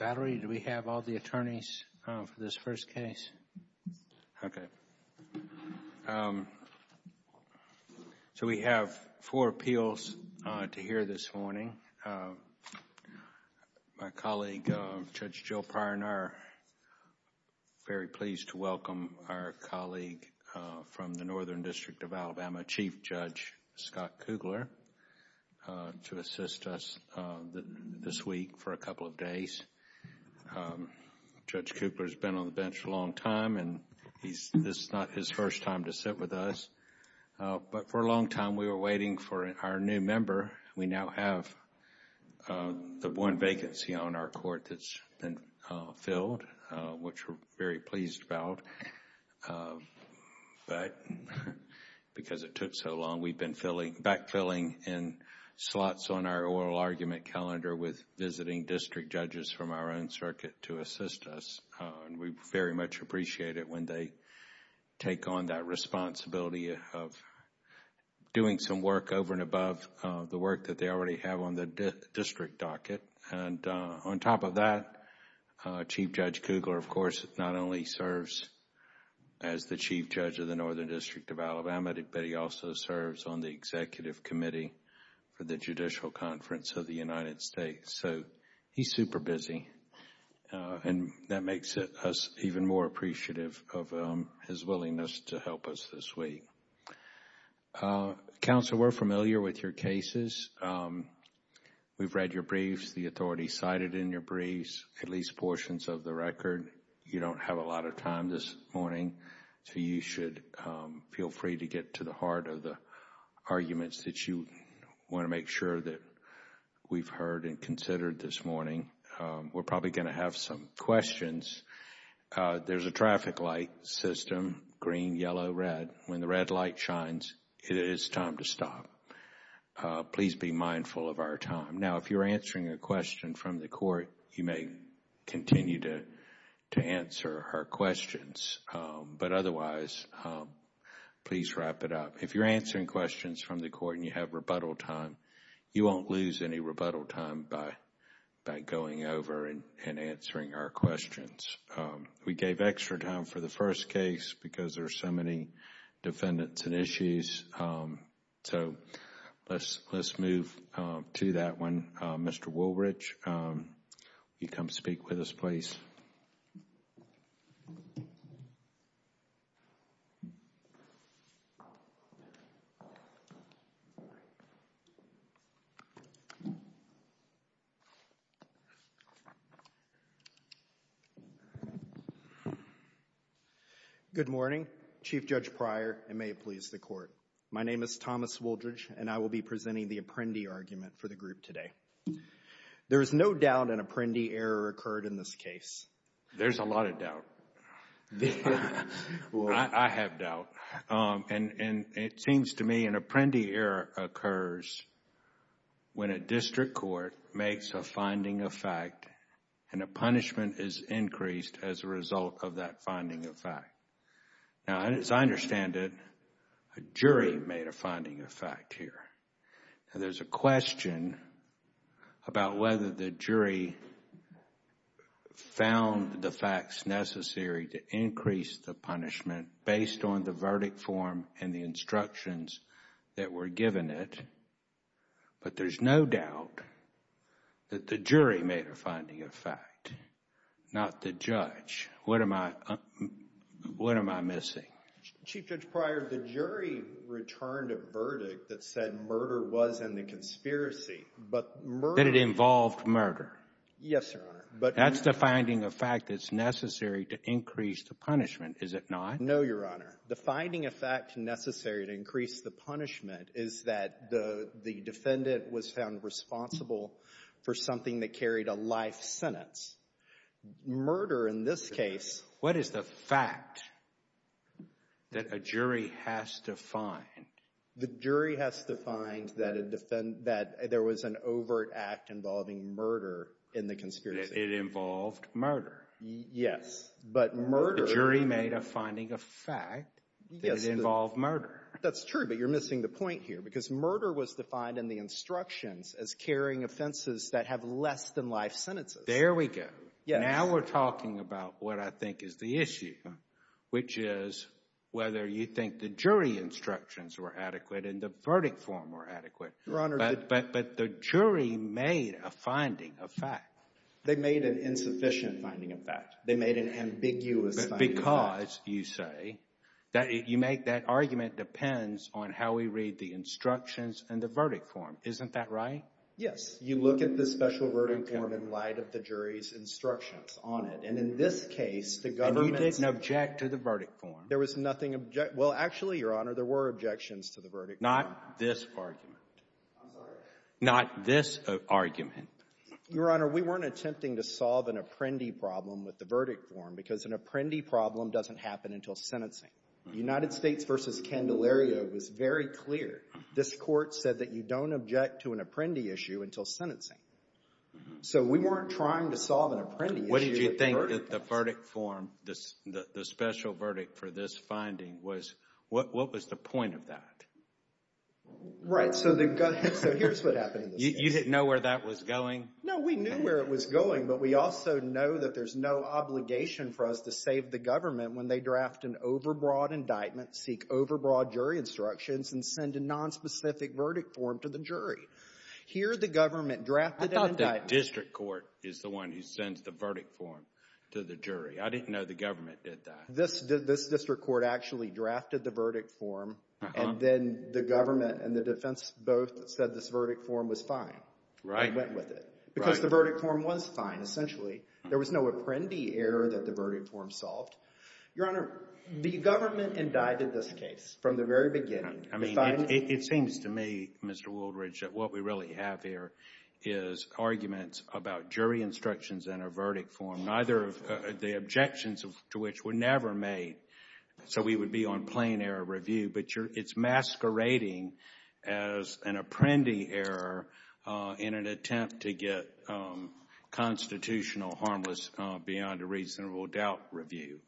Battery, do we have all the attorneys for this first case? Okay. So we have four appeals to hear this morning. My colleague, Judge Joe Parnar, very pleased to welcome our colleague from the Northern District of Alabama, Chief Judge Scott Kugler, to assist us this week for a couple of days. Judge Kugler has been on the bench a long time and this is not his first time to sit with us, but for a long time we were waiting for our new member. We now have the one vacancy on our court that's been filled, which we're very pleased about. But because it took so long, we've been backfilling in slots on our oral argument calendar with visiting district judges from our own circuit to assist us. And we very much appreciate it when they take on that responsibility of doing some work over and above the work that they already have on the district docket. On top of that, Chief Judge Kugler, of course, not only serves as the Chief Judge of the Northern District of Alabama, but he also serves on the Executive Committee for the Judicial Conference of the United States. So he's super busy and that makes us even more appreciative of his willingness to help us this week. Counsel, we're familiar with your cases. We've read your briefs, the authorities cited in your briefs, at least portions of the record. You don't have a lot of time this morning, so you should feel free to get to the heart of the arguments that you want to make sure that we've heard and considered this morning. We're probably going to have some questions. There's a traffic light system, green, yellow, red. When the red light shines, it is time to stop. Please be mindful of our time. Now, if you're answering a question from the court, you may continue to answer our questions. But otherwise, please wrap it up. If you're answering questions from the court and you have rebuttal time, you won't lose any rebuttal time by going over and answering our questions. We gave extra time for the first case because there are so many defendants and issues. So let's move to that one. Mr. Woolridge, will you come speak with us, please? Good morning, Chief Judge Pryor, and may it please the court. My name is Thomas Woolridge, and I will be presenting the apprendee argument for the error occurred in this case. There's a lot of doubt. I have doubt. It seems to me an apprendee error occurs when a district court makes a finding of fact and a punishment is increased as a result of that finding of fact. Now, as I understand it, a jury made a finding of fact here. Now, there's a question about whether the jury found the facts necessary to increase the punishment based on the verdict form and the instructions that were given it. But there's no doubt that the jury made a finding of fact, not the judge. What am I missing? Chief Judge Pryor, the jury returned a verdict that said murder was in the conspiracy, but murder... That it involved murder. Yes, Your Honor. That's the finding of fact that's necessary to increase the punishment, is it not? No, Your Honor. The finding of fact necessary to increase the punishment is that the defendant was found responsible for something that carried a life sentence. Murder in this case... What is the fact that a jury has to find? The jury has to find that there was an overt act involving murder in the conspiracy. That it involved murder. Yes, but murder... The jury made a finding of fact that it involved murder. That's true, but you're missing the point here, because murder was defined in the instructions as carrying offenses that have less than life sentences. There we go. Yes. Now we're talking about what I think is the issue, which is whether you think the jury instructions were adequate and the verdict form were adequate. Your Honor... But the jury made a finding of fact. They made an insufficient finding of fact. They made an ambiguous finding of fact. Because, you say, that you make that argument depends on how we read the instructions and the verdict form. Isn't that right? Yes. You look at the special verdict form in light of the jury's instructions on it. And in this case, the government... And you didn't object to the verdict form. There was nothing object... Well, actually, Your Honor, there were objections to the verdict form. Not this argument. I'm sorry? Not this argument. Your Honor, we weren't attempting to solve an apprendi problem with the verdict form, because an apprendi problem doesn't happen until sentencing. United States v. Candelario was very clear. This court said that you don't object to an apprendi issue until sentencing. So we weren't trying to solve an apprendi issue... What did you think that the verdict form, the special verdict for this finding was... What was the point of that? Right. So the... So here's what happened. You didn't know where that was going? No. We knew where it was going, but we also know that there's no obligation for us to save the government when they draft an overbroad indictment, seek overbroad jury instructions, and send a nonspecific verdict form to the jury. Here, the government drafted an indictment... I thought that district court is the one who sends the verdict form to the jury. I didn't know the government did that. This district court actually drafted the verdict form, and then the government and the defense both said this verdict form was fine. Right. And went with it. Right. Because the verdict form was fine, essentially. There was no apprendi error that the verdict form solved. Your Honor, the government indicted this case from the very beginning. I mean, it seems to me, Mr. Wooldridge, that what we really have here is arguments about jury instructions and a verdict form, neither of the objections to which were never made. So we would be on plain error review, but it's masquerading as an apprendi error in an attempt to get constitutional harmless beyond a reasonable doubt review.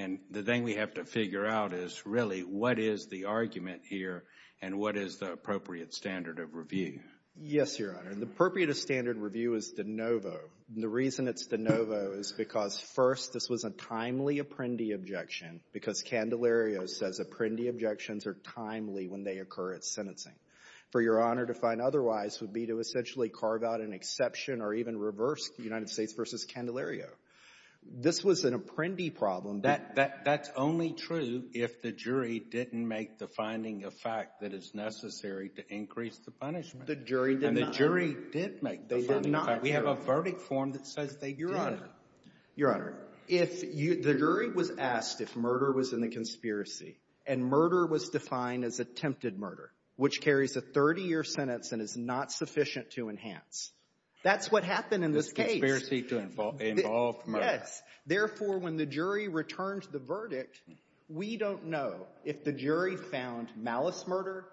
And the thing we have to figure out is, really, what is the argument here, and what is the appropriate standard of review? Yes, Your Honor. The appropriate standard of review is de novo. The reason it's de novo is because, first, this was a timely apprendi objection, because Candelario says apprendi objections are timely when they occur at sentencing. For Your Honor, to find otherwise would be to essentially carve out an exception or even reverse the United States v. Candelario. This was an apprendi problem. That's only true if the jury didn't make the finding of fact that is necessary to increase the punishment. The jury did not. And the jury did make the finding of fact. They did not. We have a verdict form that says they did. Your Honor, Your Honor, if you – the jury was asked if murder was in the conspiracy, and murder was defined as attempted murder, which carries a 30-year sentence and is not sufficient to enhance, that's what happened in this case. It was conspiracy to involve murder. Yes. Therefore, when the jury returned the verdict, we don't know if the jury found malice murder,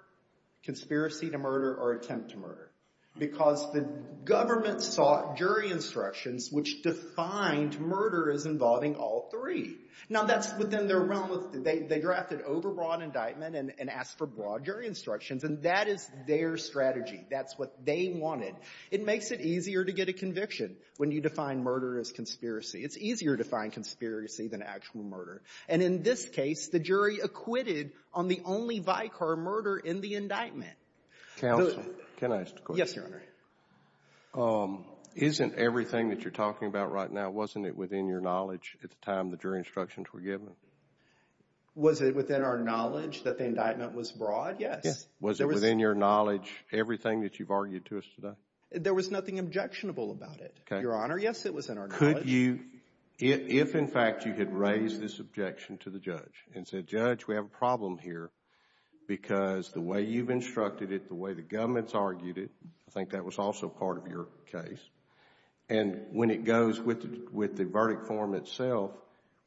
conspiracy to murder, or attempt to murder, because the government sought jury instructions which defined murder as involving all three. Now, that's within their realm of – they drafted overbroad indictment and asked for broad jury instructions. And that is their strategy. That's what they wanted. It makes it easier to get a conviction when you define murder as conspiracy. It's easier to find conspiracy than actual murder. And in this case, the jury acquitted on the only vicar murder in the indictment. Counsel, can I ask a question? Yes, Your Honor. Isn't everything that you're talking about right now, wasn't it within your knowledge at the time the jury instructions were given? Was it within our knowledge that the indictment was broad? Yes. Yes. Was it within your knowledge everything that you've argued to us today? There was nothing objectionable about it, Your Honor. Yes, it was in our knowledge. Could you – if, in fact, you had raised this objection to the judge and said, Judge, we have a problem here because the way you've instructed it, the way the government's argued it – I think that was also part of your case – and when it goes with the verdict form itself,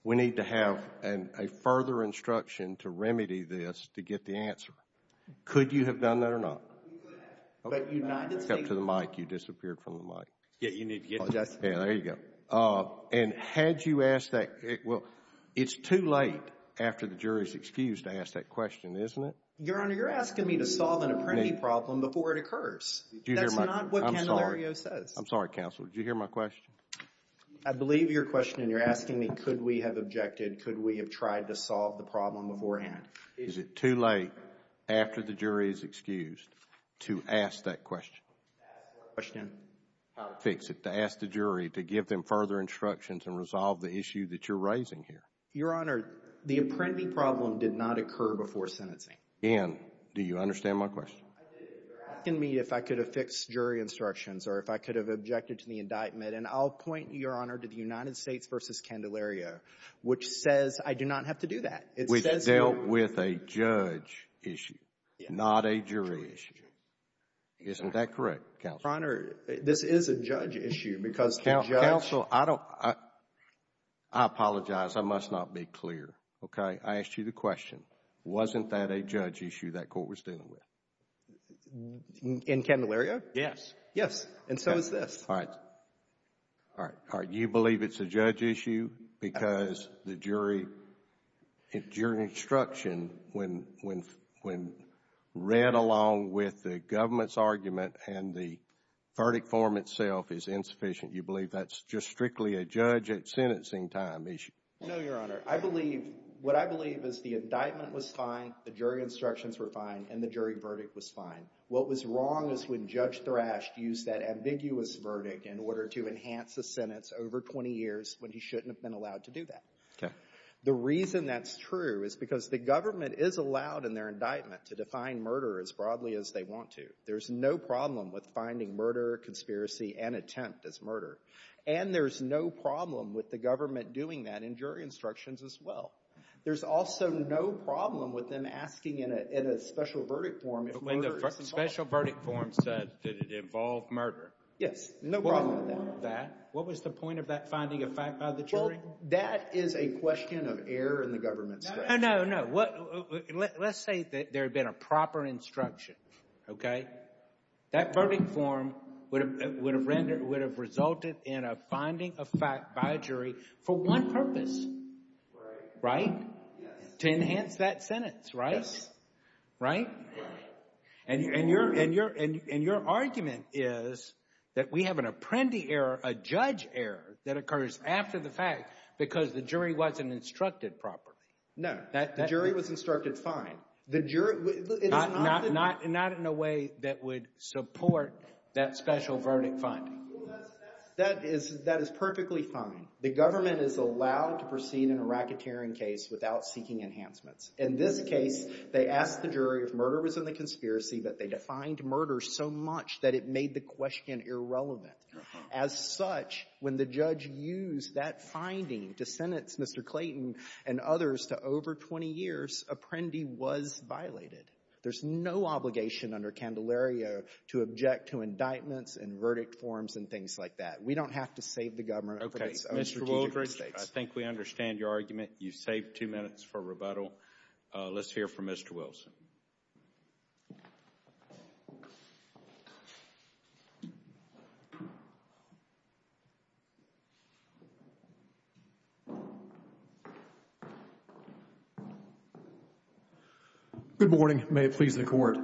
we need to have a further instruction to remedy this to get the answer. Could you have done that or not? But you – Back up to the mic. You disappeared from the mic. Yeah, you need to get – Yeah, there you go. And had you asked that – well, it's too late after the jury's excused to ask that question, isn't it? Your Honor, you're asking me to solve an apprentice problem before it occurs. Did you hear my – That's not what Candelario says. I'm sorry, counsel. Did you hear my question? I believe your question and you're asking me could we have objected, could we have tried to solve the problem beforehand. Is it too late after the jury's excused to ask that question? To ask what question? How to fix it, to ask the jury, to give them further instructions and resolve the issue that you're raising here. Your Honor, the apprentice problem did not occur before sentencing. And do you understand my question? I did. You're asking me if I could have fixed jury instructions or if I could have objected to the indictment. And I'll point, Your Honor, to the United States v. Candelario, which says I do not have to do that. It says – Which dealt with a judge issue, not a jury issue. Yeah. Isn't that correct, counsel? Your Honor, this is a judge issue because the judge – Counsel, I don't – I apologize. I must not be clear. Okay? I asked you the question. Wasn't that a judge issue that court was dealing with? In Candelario? Yes. Yes. And so is this. All right. All right. You believe it's a judge issue because the jury instruction when read along with the government's argument and the verdict form itself is insufficient? You believe that's just strictly a judge at sentencing time issue? No, Your Honor. I believe – what I believe is the indictment was fine, the jury instructions were fine, and the jury verdict was fine. What was wrong is when Judge Thrash used that ambiguous verdict in order to enhance the sentence over 20 years when he shouldn't have been allowed to do that. Okay. The reason that's true is because the government is allowed in their indictment to define murder as broadly as they want to. There's no problem with finding murder, conspiracy, and attempt as murder. And there's no problem with the government doing that in jury instructions as well. There's also no problem with them asking in a special verdict form if murder is involved. But when the special verdict form said that it involved murder. Yes. No problem with that. What was the point of that finding of fact by the jury? Well, that is a question of error in the government's – No, no, no. Let's say that there had been a proper instruction, okay? That verdict form would have resulted in a finding of fact by a jury for one purpose. Right. Right? Yes. To enhance that sentence, right? Yes. Right? Right. And your argument is that we have an apprendee error, a judge error that occurs after the fact because the jury wasn't instructed properly. No. The jury was instructed fine. Not in a way that would support that special verdict finding. That is perfectly fine. The government is allowed to proceed in a racketeering case without seeking enhancements. In this case, they asked the jury if murder was in the conspiracy, but they defined murder so much that it made the question irrelevant. As such, when the judge used that finding to sentence Mr. Clayton and others to over 20 years, apprendee was violated. There's no obligation under Candelaria to object to indictments and verdict forms and things like that. We don't have to save the government from its own strategic mistakes. Okay. Mr. Woldridge, I think we understand your argument. You saved two minutes for rebuttal. Let's hear from Mr. Wilson. Good morning. May it please the Court.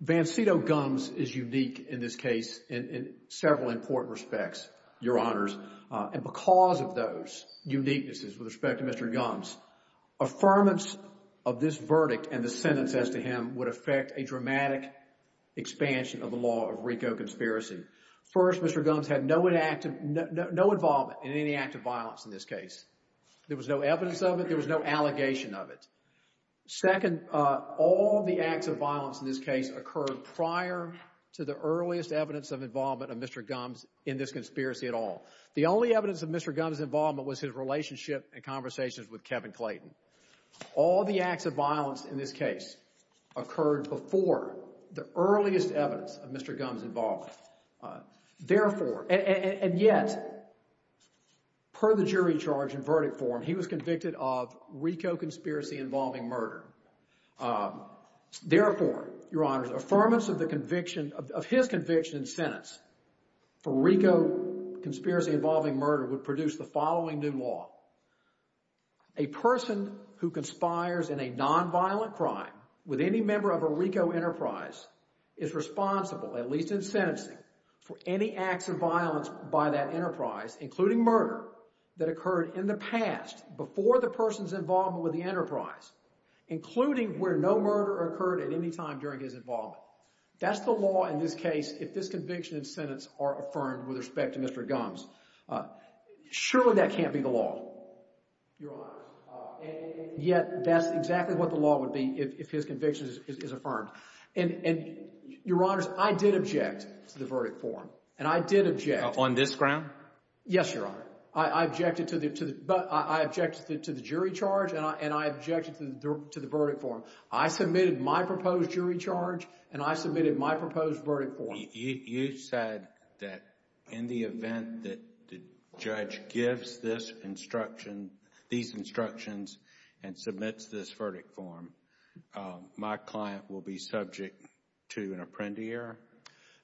Vancito Gumbs is unique in this case in several important respects, Your Honors. And because of those uniquenesses with respect to Mr. Gumbs, It's a very important part of this case. and the sentence as to him would affect a dramatic expansion of the law of RICO conspiracy. First, Mr. Gumbs had no involvement in any act of violence in this case. There was no evidence of it. There was no allegation of it. Second, all the acts of violence in this case occurred prior to the earliest evidence of involvement of Mr. Gumbs in this conspiracy at all. The only evidence of Mr. Gumbs' involvement was his relationship and conversations with Kevin Clayton. All the acts of violence in this case occurred before the earliest evidence of Mr. Gumbs' involvement. Therefore, and yet, per the jury charge in verdict form, he was convicted of RICO conspiracy involving murder. Therefore, Your Honors, affirmance of the conviction, of his conviction in sentence for RICO conspiracy involving murder would produce the following new law. A person who conspires in a nonviolent crime with any member of a RICO enterprise is responsible, at least in sentencing, for any acts of violence by that enterprise, including murder, that occurred in the past, before the person's involvement with the enterprise, including where no murder occurred at any time during his involvement. That's the law in this case if this conviction and sentence are affirmed with respect to Mr. Gumbs. Surely that can't be the law, Your Honors. And yet, that's exactly what the law would be if his conviction is affirmed. And, Your Honors, I did object to the verdict form. And I did object. On this ground? Yes, Your Honor. I objected to the jury charge and I objected to the verdict form. I submitted my proposed jury charge and I submitted my proposed verdict form. You said that in the event that the judge gives this instruction, these instructions, and submits this verdict form, my client will be subject to an apprendiary?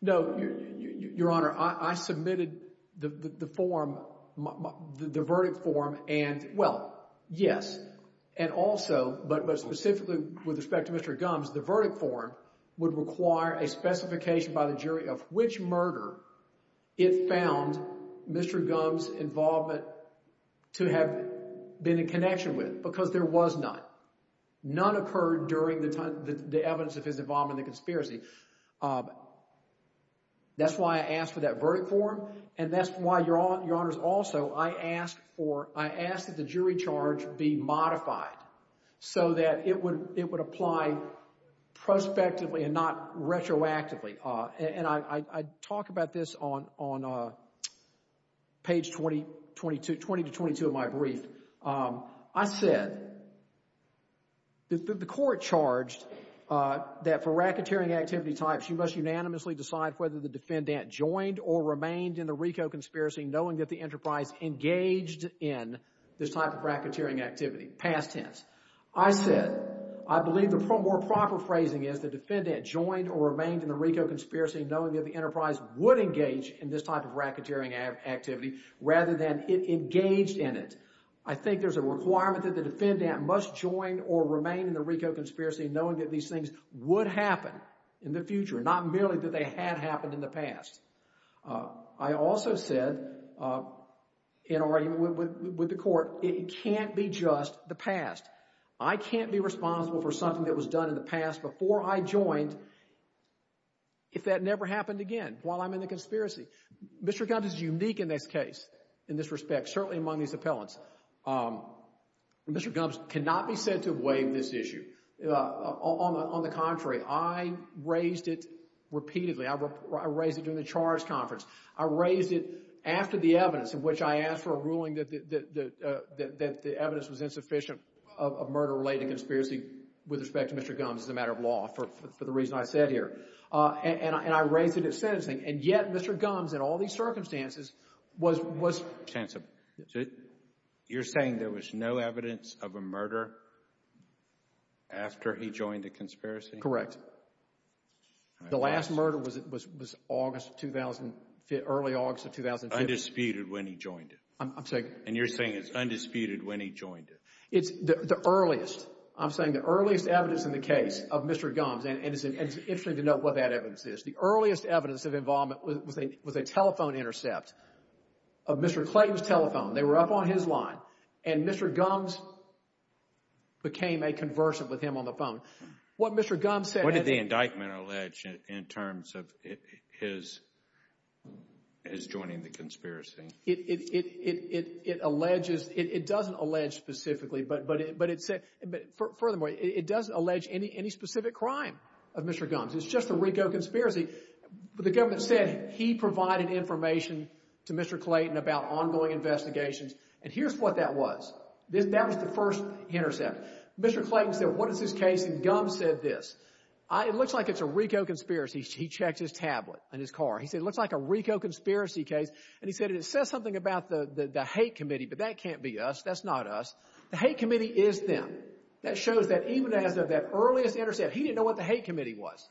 No, Your Honor. I submitted the form, the verdict form, and, well, yes. And also, but specifically with respect to Mr. Gumbs, the verdict form would require a specification by the jury of which murder it found Mr. Gumbs' involvement to have been in connection with because there was none. None occurred during the time, the evidence of his involvement in the conspiracy. That's why I asked for that verdict form. And that's why, Your Honors, also I asked for, I asked that the jury charge be modified so that it would apply prospectively and not retroactively. And I talk about this on page 20 to 22 of my brief. I said that the court charged that for racketeering activity types, you must unanimously decide whether the defendant joined or remained in the RICO conspiracy knowing that the enterprise engaged in this type of racketeering activity. Past tense. I said, I believe the more proper phrasing is the defendant joined or remained in the RICO conspiracy knowing that the enterprise would engage in this type of racketeering activity rather than it engaged in it. I think there's a requirement that the defendant must join or remain in the RICO conspiracy knowing that these things would happen in the future, not merely that they had happened in the past. I also said in an argument with the court, it can't be just the past. I can't be responsible for something that was done in the past before I joined if that never happened again while I'm in the conspiracy. Mr. Gumbs is unique in this case, in this respect, certainly among these appellants. Mr. Gumbs cannot be said to have waived this issue. On the contrary, I raised it repeatedly. I raised it during the charge conference. I raised it after the evidence in which I asked for a ruling that the evidence was insufficient of a murder-related conspiracy with respect to Mr. Gumbs as a matter of law for the reason I said here. And I raised it at sentencing. And yet Mr. Gumbs, in all these circumstances, was— Chancellor, you're saying there was no evidence of a murder after he joined the conspiracy? Correct. The last murder was August 2005, early August of 2005. Undisputed when he joined it? I'm saying— And you're saying it's undisputed when he joined it? It's the earliest. I'm saying the earliest evidence in the case of Mr. Gumbs, and it's interesting to note what that evidence is. The earliest evidence of involvement was a telephone intercept of Mr. Clayton's telephone. They were up on his line, and Mr. Gumbs became a conversant with him on the phone. What Mr. Gumbs said— What did the indictment allege in terms of his joining the conspiracy? It alleges—it doesn't allege specifically, but furthermore, it doesn't allege any specific crime of Mr. Gumbs. It's just a RICO conspiracy. The government said he provided information to Mr. Clayton about ongoing investigations. And here's what that was. That was the first intercept. Mr. Clayton said, what is this case? And Gumbs said this. It looks like it's a RICO conspiracy. He checked his tablet in his car. He said, it looks like a RICO conspiracy case. And he said, it says something about the hate committee, but that can't be us. That's not us. The hate committee is them. That shows that even as of that earliest intercept, he didn't know what the hate committee was.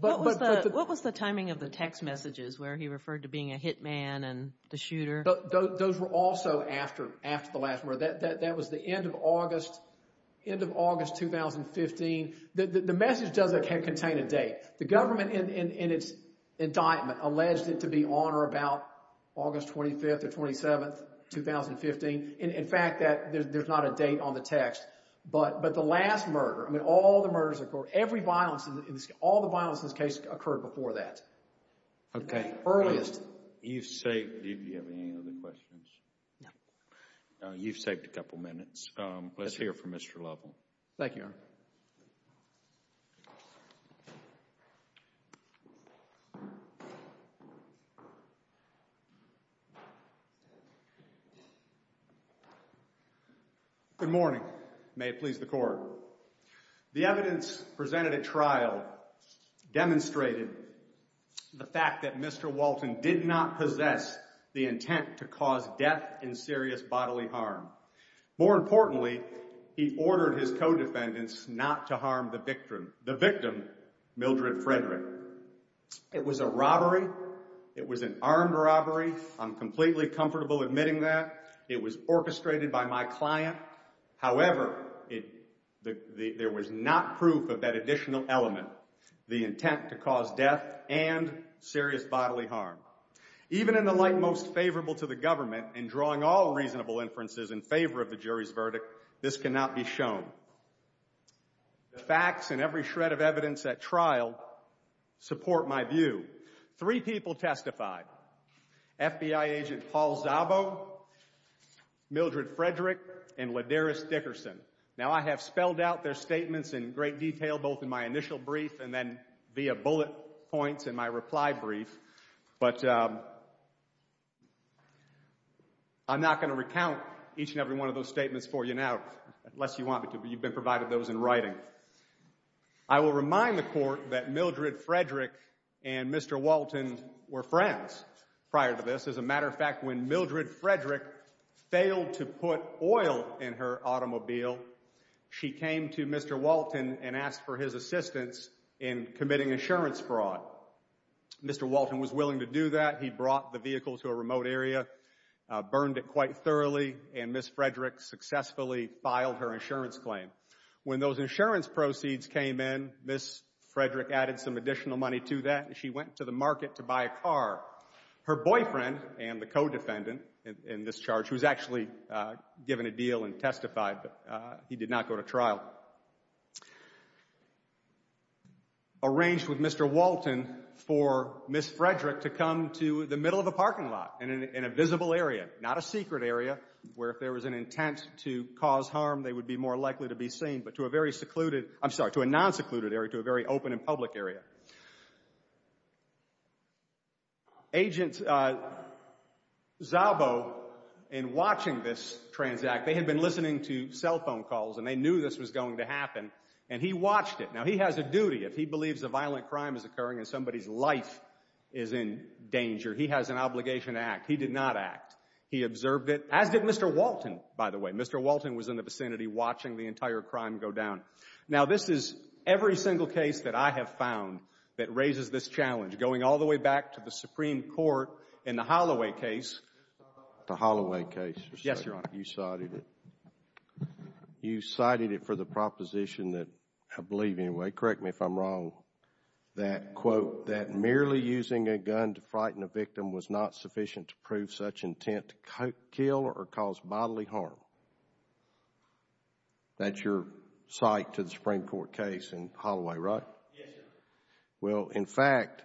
What was the timing of the text messages where he referred to being a hitman and the shooter? Those were also after the last murder. That was the end of August, end of August 2015. The message doesn't contain a date. The government in its indictment alleged it to be on or about August 25th or 27th, 2015. In fact, there's not a date on the text. But the last murder, I mean, all the murders, every violence in this case, all the violence in this case occurred before that. Okay. Earliest. You say—do you have any other questions? No. You've saved a couple minutes. Let's hear from Mr. Lovell. Thank you, Your Honor. Good morning. May it please the Court. The evidence presented at trial demonstrated the fact that Mr. Walton did not possess the intent to cause death and serious bodily harm. More importantly, he ordered his co-defendants not to harm the victim, Mildred Frederick. It was a robbery. It was an armed robbery. I'm completely comfortable admitting that. It was orchestrated by my client. However, there was not proof of that additional element, the intent to cause death and serious bodily harm. Even in the light most favorable to the government, in drawing all reasonable inferences in favor of the jury's verdict, this cannot be shown. The facts and every shred of evidence at trial support my view. Three people testified. FBI agent Paul Szabo, Mildred Frederick, and Ladaris Dickerson. Now, I have spelled out their statements in great detail, both in my initial brief and then via bullet points in my reply brief. But I'm not going to recount each and every one of those statements for you now, unless you want me to. But you've been provided those in writing. I will remind the court that Mildred Frederick and Mr. Walton were friends prior to this. As a matter of fact, when Mildred Frederick failed to put oil in her automobile, she came to Mr. Walton and asked for his assistance in committing insurance fraud. Mr. Walton was willing to do that. He brought the vehicle to a remote area, burned it quite thoroughly, and Ms. Frederick successfully filed her insurance claim. When those insurance proceeds came in, Ms. Frederick added some additional money to that, and she went to the market to buy a car. Her boyfriend and the co-defendant in this charge, who was actually given a deal and testified, but he did not go to trial, arranged with Mr. Walton for Ms. Frederick to come to the middle of a parking lot in a visible area, not a secret area, where if there was an intent to cause harm, they would be more likely to be seen, but to a non-secluded area, to a very open and public area. Agent Szabo, in watching this transact, they had been listening to cell phone calls, and they knew this was going to happen, and he watched it. Now, he has a duty. If he believes a violent crime is occurring and somebody's life is in danger, he has an obligation to act. He did not act. He observed it, as did Mr. Walton, by the way. Mr. Walton was in the vicinity watching the entire crime go down. Now, this is every single case that I have found that raises this challenge, going all the way back to the Supreme Court in the Holloway case. The Holloway case. Yes, Your Honor. You cited it. You cited it for the proposition that, I believe anyway, correct me if I'm wrong, that, quote, that merely using a gun to frighten a victim was not sufficient to prove such intent to kill or cause bodily harm. That's your cite to the Supreme Court case in Holloway, right? Yes, Your Honor. Well, in fact,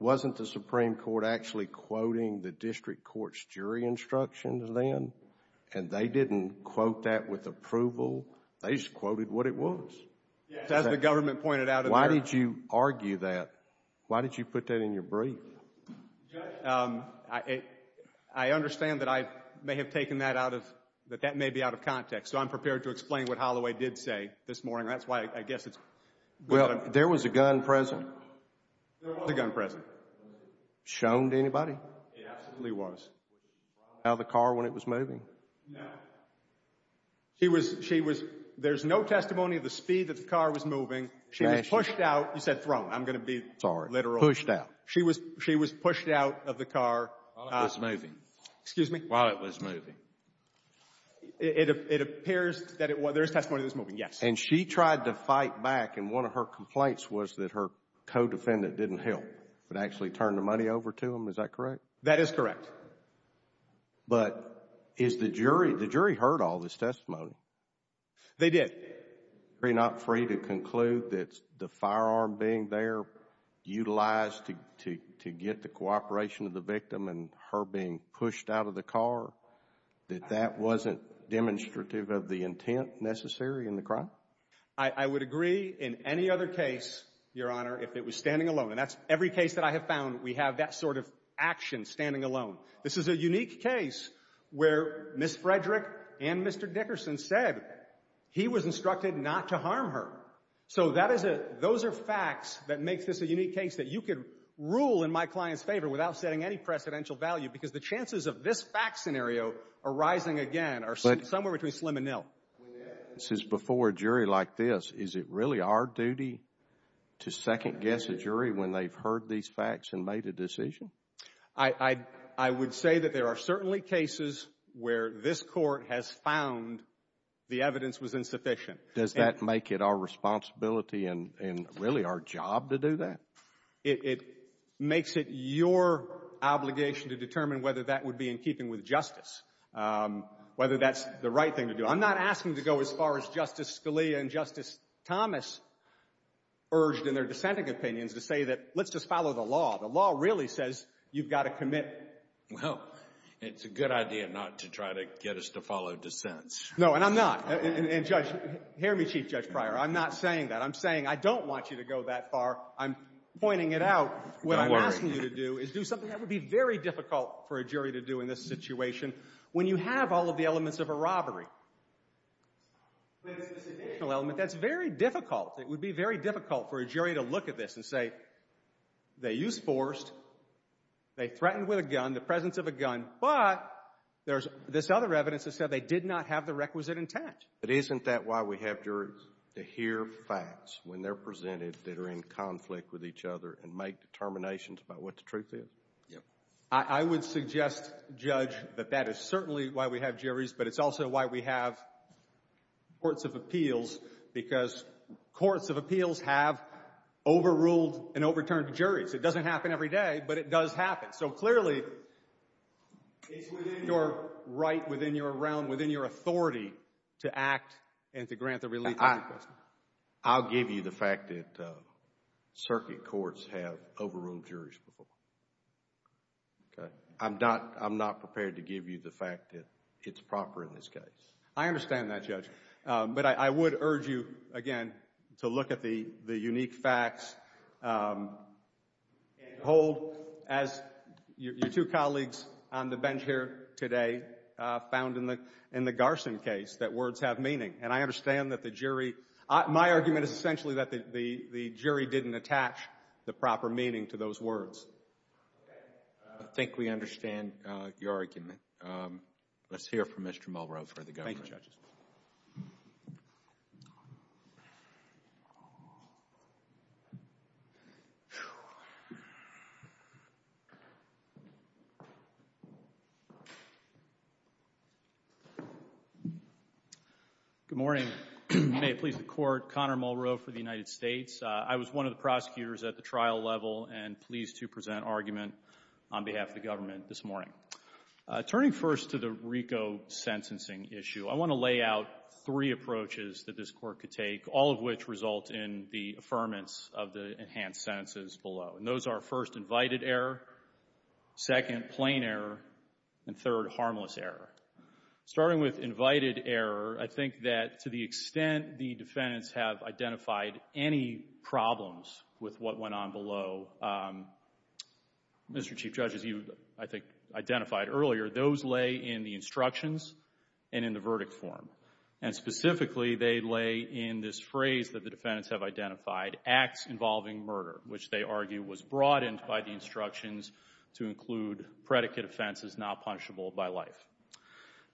wasn't the Supreme Court actually quoting the district court's jury instructions then, and they didn't quote that with approval? They just quoted what it was. Yes, as the government pointed out in their— Why did you argue that? Why did you put that in your brief? Judge, I understand that I may have taken that out of—that that may be out of context, so I'm prepared to explain what Holloway did say this morning. That's why I guess it's— Well, there was a gun present. There was a gun present. Shown to anybody? It absolutely was. Out of the car when it was moving? No. She was—she was—there's no testimony of the speed that the car was moving. She was pushed out. You said thrown. I'm going to be literal. Pushed out. She was pushed out of the car— While it was moving. Excuse me? While it was moving. It appears that it was—there is testimony that it was moving, yes. And she tried to fight back, and one of her complaints was that her co-defendant didn't help, but actually turned the money over to him. Is that correct? That is correct. But is the jury—the jury heard all this testimony? They did. Are you not free to conclude that the firearm being there, utilized to get the cooperation of the victim and her being pushed out of the car, that that wasn't demonstrative of the intent necessary in the crime? I would agree in any other case, Your Honor, if it was standing alone. And that's every case that I have found we have that sort of action, standing alone. This is a unique case where Ms. Frederick and Mr. Dickerson said he was instructed not to harm her. So that is a—those are facts that makes this a unique case that you could rule in my client's favor without setting any precedential value because the chances of this fact scenario arising again are somewhere between slim and nil. When the evidence is before a jury like this, is it really our duty to second-guess a jury when they've heard these facts and made a decision? I would say that there are certainly cases where this Court has found the evidence was insufficient. Does that make it our responsibility and really our job to do that? It makes it your obligation to determine whether that would be in keeping with justice, whether that's the right thing to do. I'm not asking to go as far as Justice Scalia and Justice Thomas urged in their dissenting opinions to say that let's just follow the law. The law really says you've got to commit. Well, it's a good idea not to try to get us to follow dissents. No, and I'm not. And, Judge, hear me, Chief Judge Pryor. I'm not saying that. I'm saying I don't want you to go that far. I'm pointing it out. What I'm asking you to do is do something that would be very difficult for a jury to do in this situation when you have all of the elements of a robbery. But it's this additional element that's very difficult. It would be very difficult for a jury to look at this and say they used force, they threatened with a gun, the presence of a gun, but there's this other evidence that said they did not have the requisite intent. But isn't that why we have juries, to hear facts when they're presented that are in conflict with each other and make determinations about what the truth is? I would suggest, Judge, that that is certainly why we have juries, but it's also why we have courts of appeals, because courts of appeals have overruled and overturned juries. It doesn't happen every day, but it does happen. So, clearly, it's within your right, within your realm, within your authority to act and to grant the relief request. I'll give you the fact that circuit courts have overruled juries before. I'm not prepared to give you the fact that it's proper in this case. I understand that, Judge. But I would urge you, again, to look at the unique facts and hold, as your two colleagues on the bench here today found in the Garson case, that words have meaning. And I understand that the jury, my argument is essentially that the jury didn't attach the proper meaning to those words. Okay. I think we understand your argument. Let's hear from Mr. Mulrow for the government. Thank you very much, Judges. Good morning. May it please the Court. Connor Mulrow for the United States. I was one of the prosecutors at the trial level and pleased to present argument on behalf of the government this morning. Turning first to the RICO sentencing issue, I want to lay out three approaches that this Court could take, all of which result in the affirmance of the enhanced sentences below. And those are first, invited error, second, plain error, and third, harmless error. Starting with invited error, I think that to the extent the defendants have identified any problems with what went on below, Mr. Chief Judge, as you, I think, identified earlier, those lay in the instructions and in the verdict form. And specifically, they lay in this phrase that the defendants have identified, acts involving murder, which they argue was broadened by the instructions to include predicate offenses not punishable by life.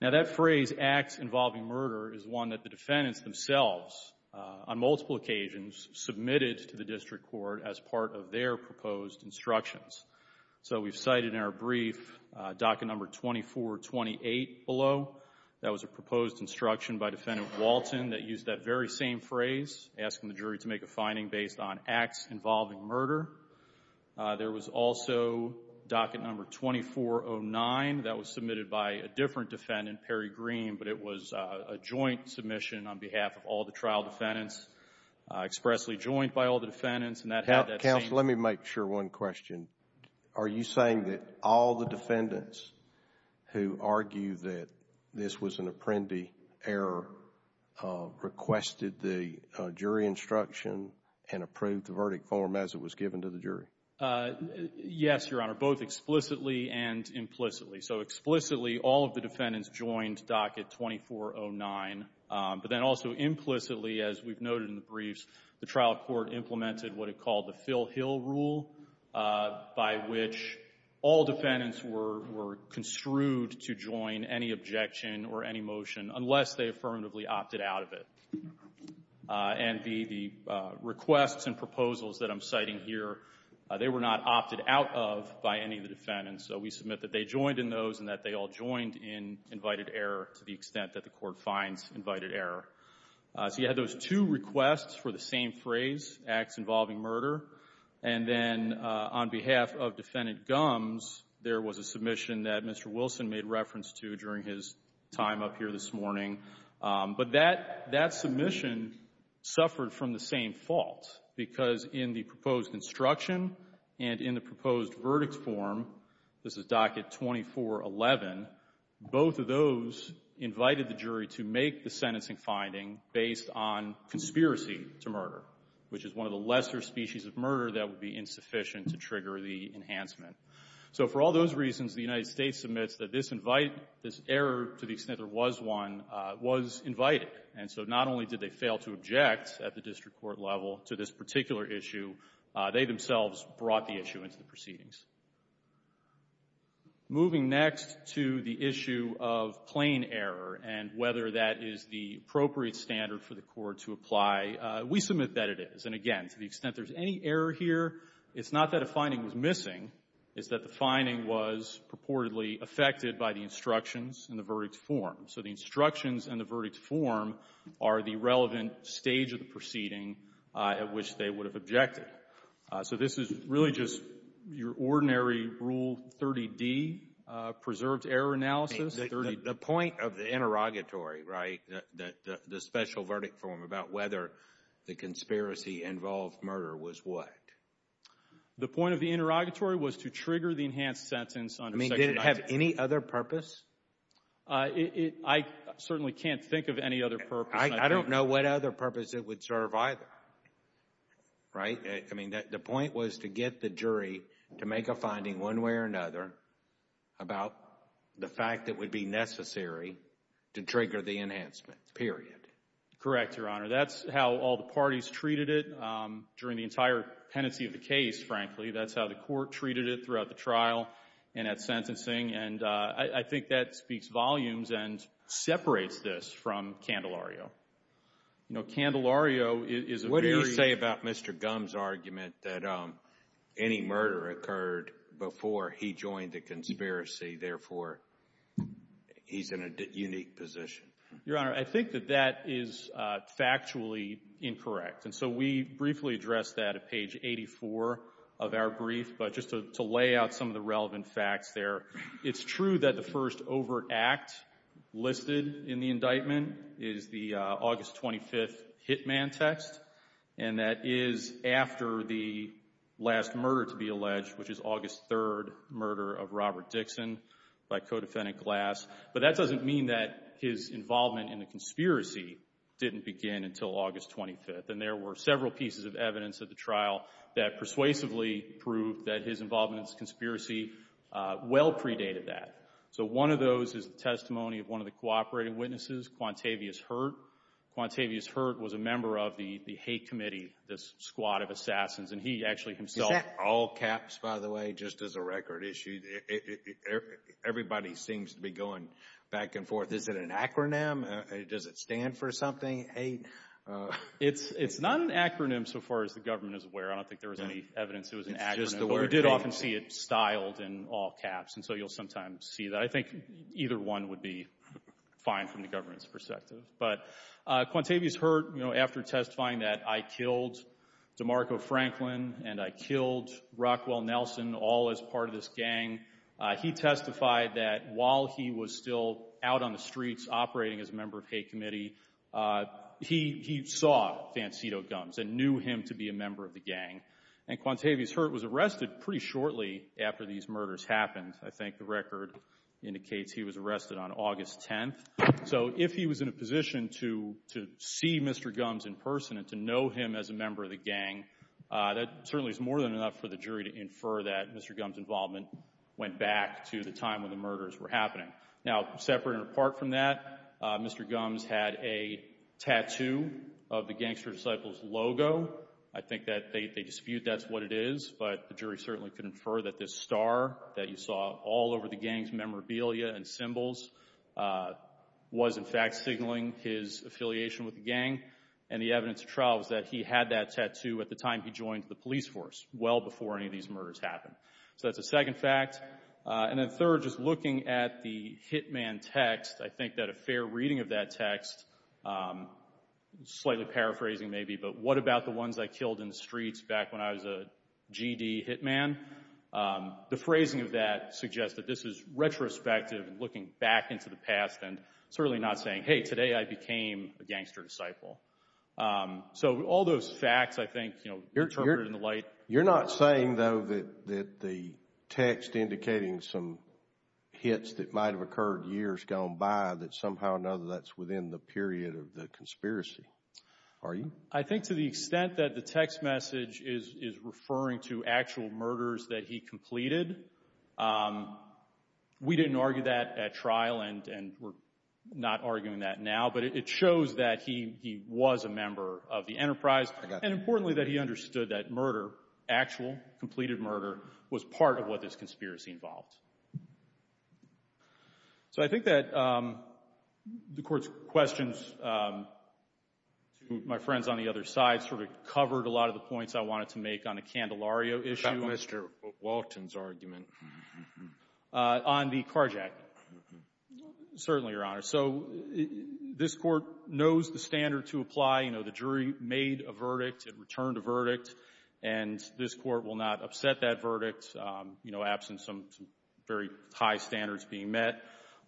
Now, that phrase, acts involving murder, is one that the defendants themselves, on multiple occasions, submitted to the district court as part of their proposed instructions. So we've cited in our brief docket number 2428 below. That was a proposed instruction by Defendant Walton that used that very same phrase, asking the jury to make a finding based on acts involving murder. There was also docket number 2409 that was submitted by a different defendant, Perry Green, but it was a joint submission on behalf of all the trial defendants, expressly joined by all the defendants. Counsel, let me make sure one question. Are you saying that all the defendants who argue that this was an apprendee error requested the jury instruction and approved the verdict form as it was given to the jury? Yes, Your Honor, both explicitly and implicitly. So explicitly, all of the defendants joined docket 2409, but then also implicitly, as we've noted in the briefs, the trial court implemented what it called the Phil Hill rule, by which all defendants were construed to join any objection or any motion unless they affirmatively opted out of it. And the requests and proposals that I'm citing here, they were not opted out of by any of the defendants. So we submit that they joined in those and that they all joined in invited error to the extent that the court finds invited error. So you had those two requests for the same phrase, acts involving murder. And then on behalf of Defendant Gumbs, there was a submission that Mr. Wilson made reference to during his time up here this morning. But that submission suffered from the same fault because in the proposed instruction and in the proposed verdict form, this is docket 2411, both of those invited the jury to make the sentencing finding based on conspiracy to murder, which is one of the lesser species of murder that would be insufficient to trigger the enhancement. So for all those reasons, the United States submits that this invite, this error to the extent there was one, was invited. And so not only did they fail to object at the district court level to this particular issue, they themselves brought the issue into the proceedings. Moving next to the issue of plain error and whether that is the appropriate standard for the court to apply, we submit that it is. And again, to the extent there's any error here, it's not that a finding was missing. It's that the finding was purportedly affected by the instructions in the verdict form. So the instructions in the verdict form are the relevant stage of the proceeding at which they would have objected. So this is really just your ordinary Rule 30D preserved error analysis. The point of the interrogatory, right, the special verdict form about whether the conspiracy involved murder was what? The point of the interrogatory was to trigger the enhanced sentence on a second instance. Did it have any other purpose? I certainly can't think of any other purpose. I don't know what other purpose it would serve either, right? I mean, the point was to get the jury to make a finding one way or another about the fact that would be necessary to trigger the enhancement, period. Correct, Your Honor. That's how all the parties treated it during the entire pendency of the case, frankly. That's how the court treated it throughout the trial and at sentencing. And I think that speaks volumes and separates this from Candelario. You know, Candelario is a very — What did he say about Mr. Gumbs' argument that any murder occurred before he joined the conspiracy, therefore he's in a unique position? Your Honor, I think that that is factually incorrect. And so we briefly addressed that at page 84 of our brief. But just to lay out some of the relevant facts there, it's true that the first overt act listed in the indictment is the August 25th hitman text. And that is after the last murder to be alleged, which is August 3rd murder of Robert Dixon by co-defendant Glass. But that doesn't mean that his involvement in the conspiracy didn't begin until August 25th. And there were several pieces of evidence at the trial that persuasively proved that his involvement in this conspiracy well predated that. So one of those is the testimony of one of the cooperating witnesses, Quantavious Hurt. Quantavious Hurt was a member of the hate committee, this squad of assassins. And he actually himself — Is that all caps, by the way, just as a record issue? Everybody seems to be going back and forth. Is it an acronym? Does it stand for something, hate? It's not an acronym so far as the government is aware. I don't think there was any evidence it was an acronym. But we did often see it styled in all caps. And so you'll sometimes see that. I think either one would be fine from the government's perspective. But Quantavious Hurt, you know, after testifying that I killed DeMarco Franklin and I killed Rockwell Nelson all as part of this gang, he testified that while he was still out on the streets operating as a member of hate committee, he saw Fancito Gumbs and knew him to be a member of the gang. And Quantavious Hurt was arrested pretty shortly after these murders happened. I think the record indicates he was arrested on August 10th. So if he was in a position to see Mr. Gumbs in person and to know him as a member of the gang, that certainly is more than enough for the jury to infer that Mr. Gumbs' involvement went back to the time when the murders were happening. Now, separate and apart from that, Mr. Gumbs had a tattoo of the Gangster Disciples logo. I think that they dispute that's what it is. But the jury certainly could infer that this star that you saw all over the gang's memorabilia and symbols was, in fact, signaling his affiliation with the gang. And the evidence of trial was that he had that tattoo at the time he joined the police force, well before any of these murders happened. So that's a second fact. And then third, just looking at the hitman text, I think that a fair reading of that text, slightly paraphrasing maybe, but what about the ones I killed in the streets back when I was a G.D. hitman? The phrasing of that suggests that this is retrospective looking back into the past and certainly not saying, hey, today I became a Gangster Disciple. So all those facts, I think, you know, interpreted in the light. You're not saying, though, that the text indicating some hits that might have occurred years gone by, that somehow or another that's within the period of the conspiracy, are you? I think to the extent that the text message is referring to actual murders that he completed. We didn't argue that at trial, and we're not arguing that now. But it shows that he was a member of the enterprise. And importantly, that he understood that murder, actual completed murder, was part of what this conspiracy involved. So I think that the Court's questions to my friends on the other side sort of covered a lot of the points I wanted to make on the Candelario issue. About Mr. Walton's argument. On the Carjack. Certainly, Your Honor. So this Court knows the standard to apply. You know, the jury made a verdict. It returned a verdict. And this Court will not upset that verdict, you know, absent some very high standards being met.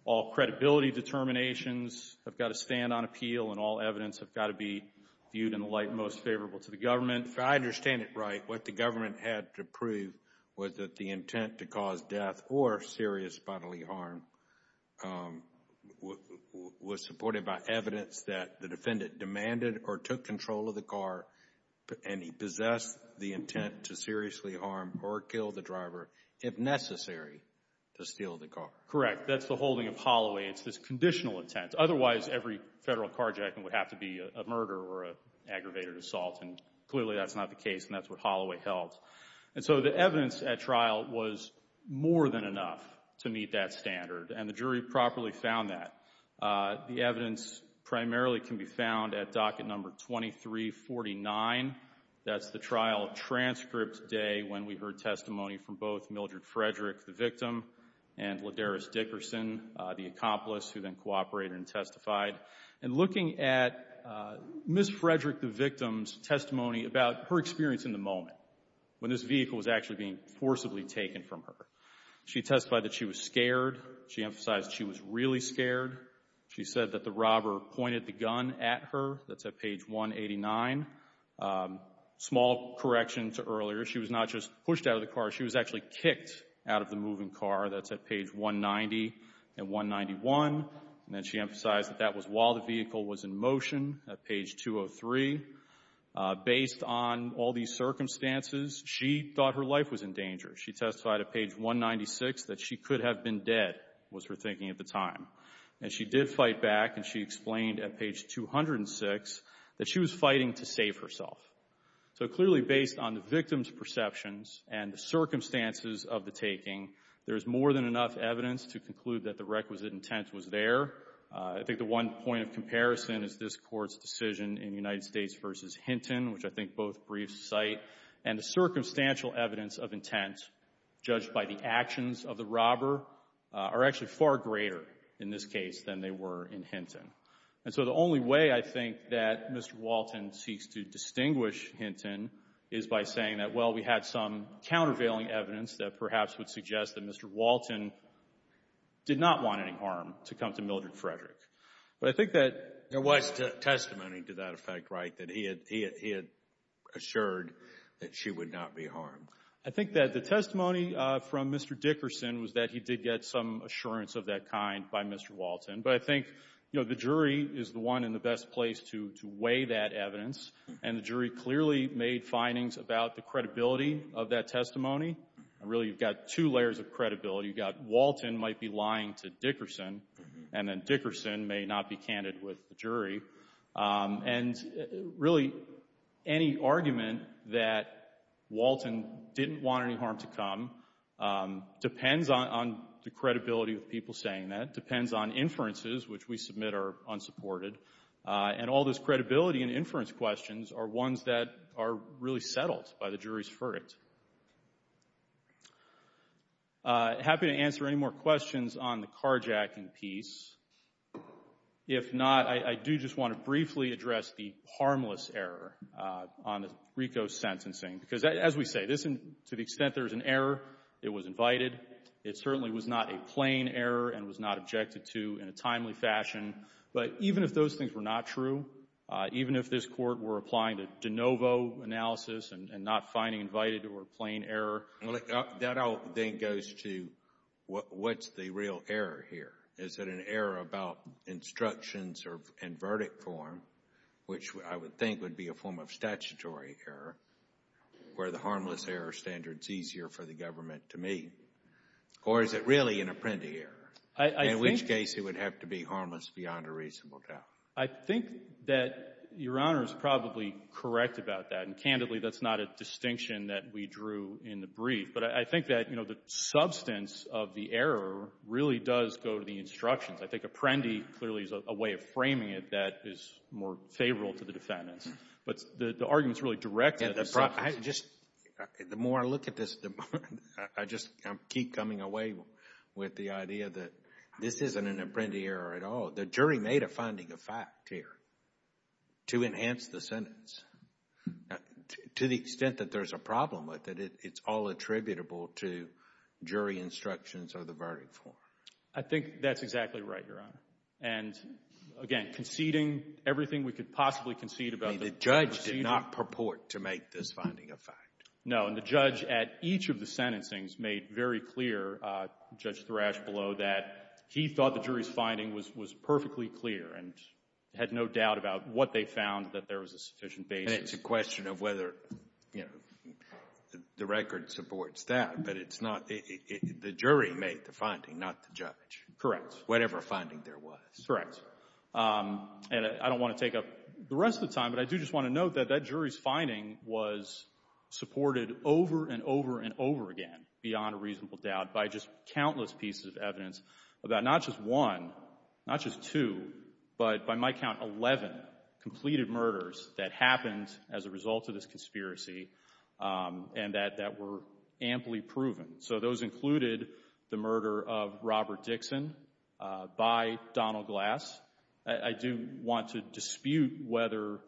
All credibility determinations have got to stand on appeal, and all evidence has got to be viewed in the light most favorable to the government. If I understand it right, what the government had to prove was that the intent to cause death or serious bodily harm was supported by evidence that the defendant demanded or took control of the car, and he possessed the intent to seriously harm or kill the driver if necessary to steal the car. Correct. That's the holding of Holloway. It's this conditional intent. Otherwise, every federal carjacking would have to be a murder or an aggravated assault. And clearly that's not the case, and that's what Holloway held. And so the evidence at trial was more than enough to meet that standard, and the jury properly found that. The evidence primarily can be found at docket number 2349. That's the trial transcript day when we heard testimony from both Mildred Frederick, the victim, and Ladaris Dickerson, the accomplice, who then cooperated and testified. And looking at Ms. Frederick, the victim's testimony about her experience in the moment, when this vehicle was actually being forcibly taken from her, she testified that she was scared. She emphasized she was really scared. She said that the robber pointed the gun at her. That's at page 189. Small correction to earlier. She was not just pushed out of the car. She was actually kicked out of the moving car. That's at page 190 and 191. And then she emphasized that that was while the vehicle was in motion at page 203. Based on all these circumstances, she thought her life was in danger. She testified at page 196 that she could have been dead, was her thinking at the time. And she did fight back, and she explained at page 206 that she was fighting to save herself. So clearly based on the victim's perceptions and the circumstances of the taking, there is more than enough evidence to conclude that the requisite intent was there. I think the one point of comparison is this Court's decision in United States v. Hinton, which I think both briefs cite. And the circumstantial evidence of intent judged by the actions of the robber are actually far greater in this case than they were in Hinton. And so the only way I think that Mr. Walton seeks to distinguish Hinton is by saying that, well, we had some countervailing evidence that perhaps would suggest that Mr. Walton did not want any harm to come to Mildred Frederick. But I think that there was testimony to that effect, right, that he had assured that she would not be harmed. I think that the testimony from Mr. Dickerson was that he did get some assurance of that kind by Mr. Walton. But I think, you know, the jury is the one in the best place to weigh that evidence. And the jury clearly made findings about the credibility of that testimony. And really, you've got two layers of credibility. You've got Walton might be lying to Dickerson, and then Dickerson may not be candid with the jury. And really, any argument that Walton didn't want any harm to come depends on the credibility of people saying that, depends on inferences, which we submit are unsupported. And all this credibility and inference questions are ones that are really settled by the jury's verdict. Happy to answer any more questions on the carjacking piece. If not, I do just want to briefly address the harmless error on the RICO sentencing. Because, as we say, to the extent there's an error, it was invited. It certainly was not a plain error and was not objected to in a timely fashion. But even if those things were not true, even if this Court were applying a de novo analysis and not finding invited or a plain error. Well, that, I think, goes to what's the real error here. Is it an error about instructions and verdict form, which I would think would be a form of statutory error, where the harmless error standard is easier for the government to meet? Or is it really an apprendee error? In which case, it would have to be harmless beyond a reasonable doubt. I think that Your Honor is probably correct about that. And candidly, that's not a distinction that we drew in the brief. But I think that, you know, the substance of the error really does go to the instructions. I think apprendee clearly is a way of framing it that is more favorable to the defendants. But the argument is really directed at the substance. The more I look at this, the more I just keep coming away with the idea that this isn't an apprendee error at all. The jury made a finding of fact here to enhance the sentence to the extent that there's a problem with it. It's all attributable to jury instructions or the verdict form. I think that's exactly right, Your Honor. And, again, conceding everything we could possibly concede about the proceeding. The jury did not purport to make this finding of fact. No, and the judge at each of the sentencings made very clear, Judge Thrash below, that he thought the jury's finding was perfectly clear and had no doubt about what they found, that there was a sufficient basis. And it's a question of whether, you know, the record supports that. But it's not. The jury made the finding, not the judge. Correct. Whatever finding there was. Correct. And I don't want to take up the rest of the time, but I do just want to note that that jury's finding was supported over and over and over again, beyond a reasonable doubt, by just countless pieces of evidence about not just one, not just two, but, by my count, 11 completed murders that happened as a result of this conspiracy and that were amply proven. So those included the murder of Robert Dixon by Donald Glass. I do want to dispute whether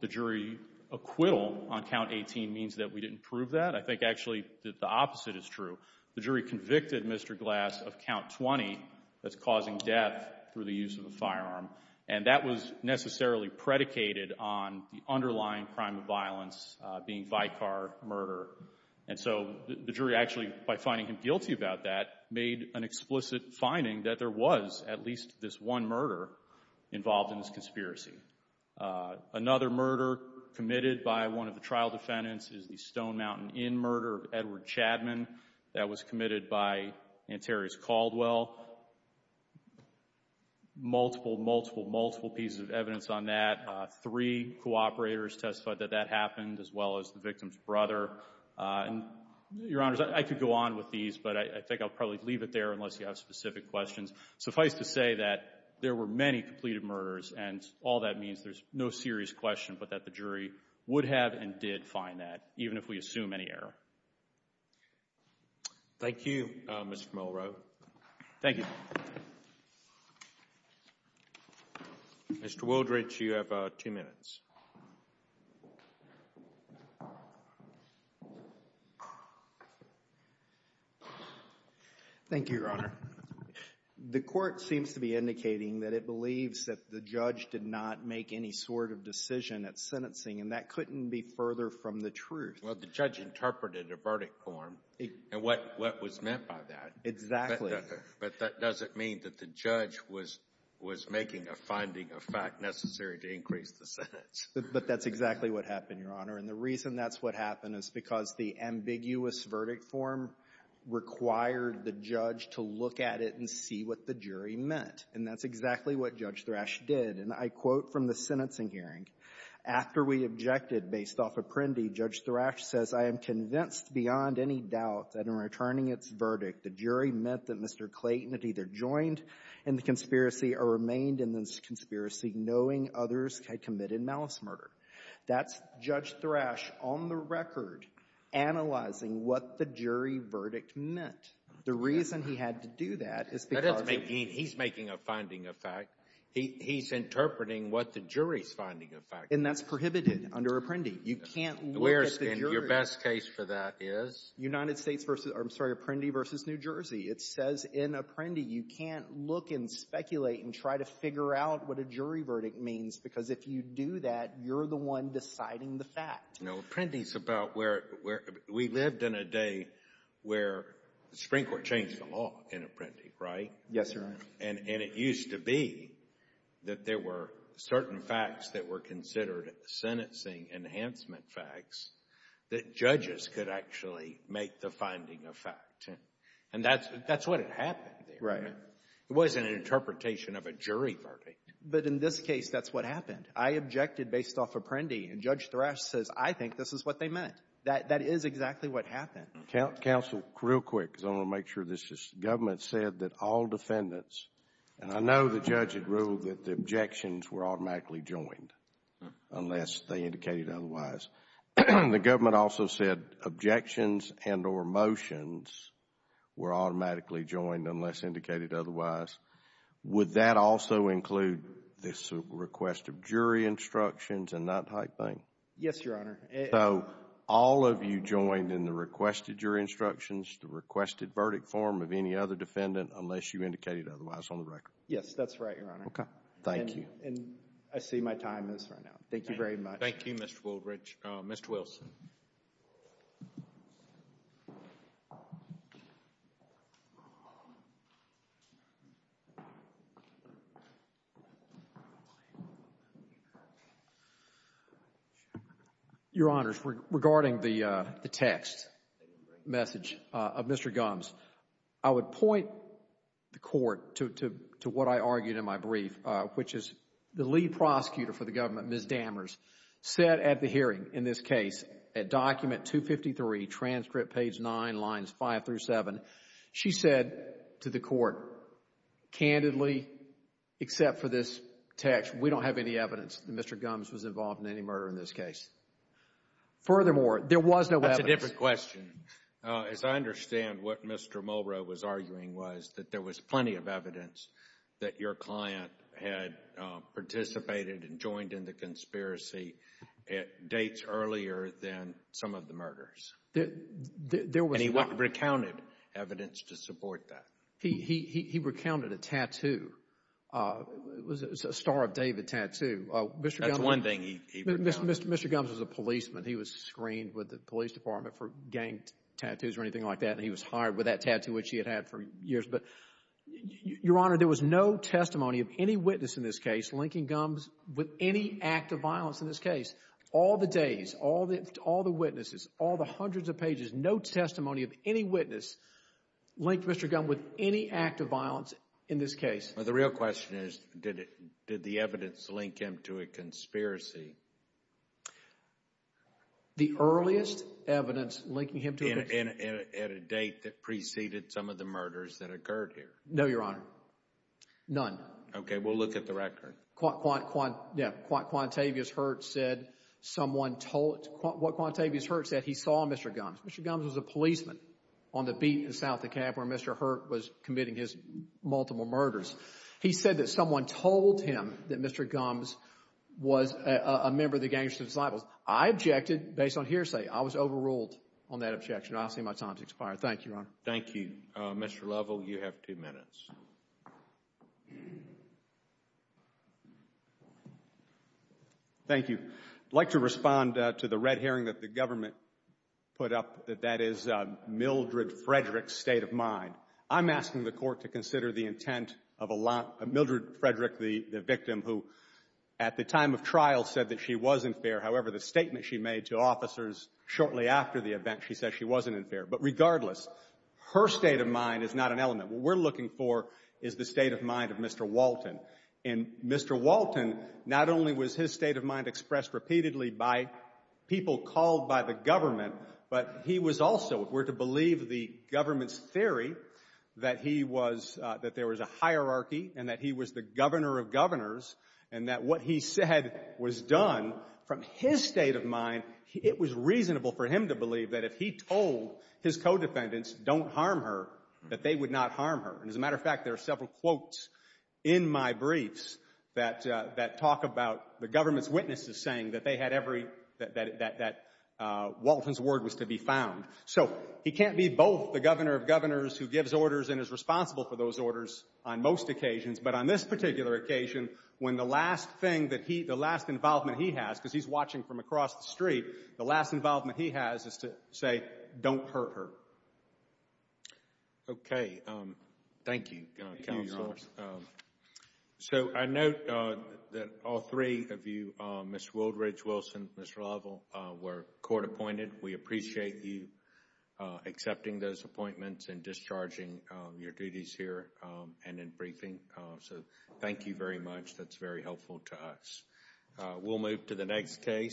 the jury acquittal on Count 18 means that we didn't prove that. I think, actually, that the opposite is true. The jury convicted Mr. Glass of Count 20, that's causing death through the use of a firearm, and that was necessarily predicated on the underlying crime of violence being Vicar murder. And so the jury actually, by finding him guilty about that, made an explicit finding that there was at least this one murder involved in this conspiracy. Another murder committed by one of the trial defendants is the Stone Mountain Inn murder of Edward Chadman that was committed by Antarius Caldwell. Multiple, multiple, multiple pieces of evidence on that. Three cooperators testified that that happened, as well as the victim's brother. Your Honors, I could go on with these, but I think I'll probably leave it there unless you have specific questions. Suffice to say that there were many completed murders, and all that means there's no serious question but that the jury would have and did find that, even if we assume any error. Thank you, Mr. Mulrow. Thank you. Mr. Wooldridge, you have two minutes. Thank you, Your Honor. The court seems to be indicating that it believes that the judge did not make any sort of decision at sentencing, and that couldn't be further from the truth. Well, the judge interpreted a verdict form and what was meant by that. Exactly. But that doesn't mean that the judge was making a finding of fact necessary to increase the sentence. But that's exactly what happened, Your Honor. And the reason that's what happened is because the ambiguous verdict form required the judge to look at it and see what the jury meant, and that's exactly what Judge Thrash did. And I quote from the sentencing hearing, After we objected, based off Apprendi, Judge Thrash says, I am convinced beyond any doubt that in returning its verdict, the jury meant that Mr. Clayton had either joined in the conspiracy or remained in this conspiracy knowing others had committed malice murder. That's Judge Thrash on the record analyzing what the jury verdict meant. The reason he had to do that is because of the jury. He's making a finding of fact. He's interpreting what the jury's finding of fact. And that's prohibited under Apprendi. You can't look at the jury. And your best case for that is? United States versus—I'm sorry, Apprendi versus New Jersey. It says in Apprendi you can't look and speculate and try to figure out what a jury verdict means because if you do that, you're the one deciding the fact. No, Apprendi's about where—we lived in a day where the Supreme Court changed the law in Apprendi, right? Yes, Your Honor. And it used to be that there were certain facts that were considered sentencing enhancement facts that judges could actually make the finding of fact. And that's what had happened there. Right. It wasn't an interpretation of a jury verdict. But in this case, that's what happened. I objected based off Apprendi, and Judge Thrash says I think this is what they meant. That is exactly what happened. Counsel, real quick, because I want to make sure this is— the government said that all defendants—and I know the judge had ruled that the objections were automatically joined unless they indicated otherwise. The government also said objections and or motions were automatically joined unless indicated otherwise. Would that also include this request of jury instructions and that type thing? Yes, Your Honor. So all of you joined in the requested jury instructions, the requested verdict form of any other defendant unless you indicated otherwise on the record? Yes, that's right, Your Honor. Okay. Thank you. And I see my time has run out. Thank you very much. Thank you, Mr. Wildridge. Mr. Wilson. Your Honors, regarding the text message of Mr. Gumbs, I would point the Court to what I argued in my brief, which is the lead prosecutor for the government, Ms. Dammers, said at the hearing in this case at document 253, transcript page 9, lines 5 through 7, she said to the Court, candidly, except for this text, we don't have any evidence that Mr. Gumbs was involved in any murder in this case. Furthermore, there was no evidence. That's a different question. As I understand, what Mr. Mulrow was arguing was that there was plenty of evidence that your client had participated and joined in the conspiracy at dates earlier than some of the murders. And he recounted evidence to support that. He recounted a tattoo. It was a Star of David tattoo. That's one thing he recounted. Mr. Gumbs was a policeman. He was screened with the police department for gang tattoos or anything like that, and he was hired with that tattoo, which he had had for years. But, Your Honor, there was no testimony of any witness in this case linking Gumbs with any act of violence in this case. All the days, all the witnesses, all the hundreds of pages, no testimony of any witness linked Mr. Gumbs with any act of violence in this case. Well, the real question is, did the evidence link him to a conspiracy? The earliest evidence linking him to a conspiracy. And at a date that preceded some of the murders that occurred here. No, Your Honor, none. Okay, we'll look at the record. Yeah, Quontavious Hurt said someone told it. What Quontavious Hurt said, he saw Mr. Gumbs. Mr. Gumbs was a policeman on the beat in Southacab where Mr. Hurt was committing his multiple murders. He said that someone told him that Mr. Gumbs was a member of the Gangster Disciples. I objected based on hearsay. I was overruled on that objection. I'll see my time to expire. Thank you, Your Honor. Thank you. Mr. Lovell, you have two minutes. Thank you. I'd like to respond to the red herring that the government put up, that that is Mildred Frederick's state of mind. I'm asking the Court to consider the intent of Mildred Frederick, the victim, who at the time of trial said that she was unfair. However, the statement she made to officers shortly after the event, she said she wasn't unfair. But regardless, her state of mind is not an element. What we're looking for is the state of mind of Mr. Walton. And Mr. Walton, not only was his state of mind expressed repeatedly by people called by the government, but he was also, if we're to believe the government's theory, that he was, that there was a hierarchy and that he was the governor of governors and that what he said was done from his state of mind, it was reasonable for him to believe that if he told his co-defendants, don't harm her, that they would not harm her. As a matter of fact, there are several quotes in my briefs that talk about the government's witnesses saying that they had every, that Walton's word was to be found. So he can't be both the governor of governors who gives orders and is responsible for those orders on most occasions, but on this particular occasion, when the last thing that he, the last involvement he has, because he's watching from across the street, the last involvement he has is to say, don't hurt her. Okay. Thank you, Counsel. Thank you, Your Honors. So I note that all three of you, Mr. Woodridge, Wilson, Mr. Lovell, were court appointed. We appreciate you accepting those appointments and discharging your duties here and in briefing. So thank you very much. That's very helpful to us. We'll move to the next case.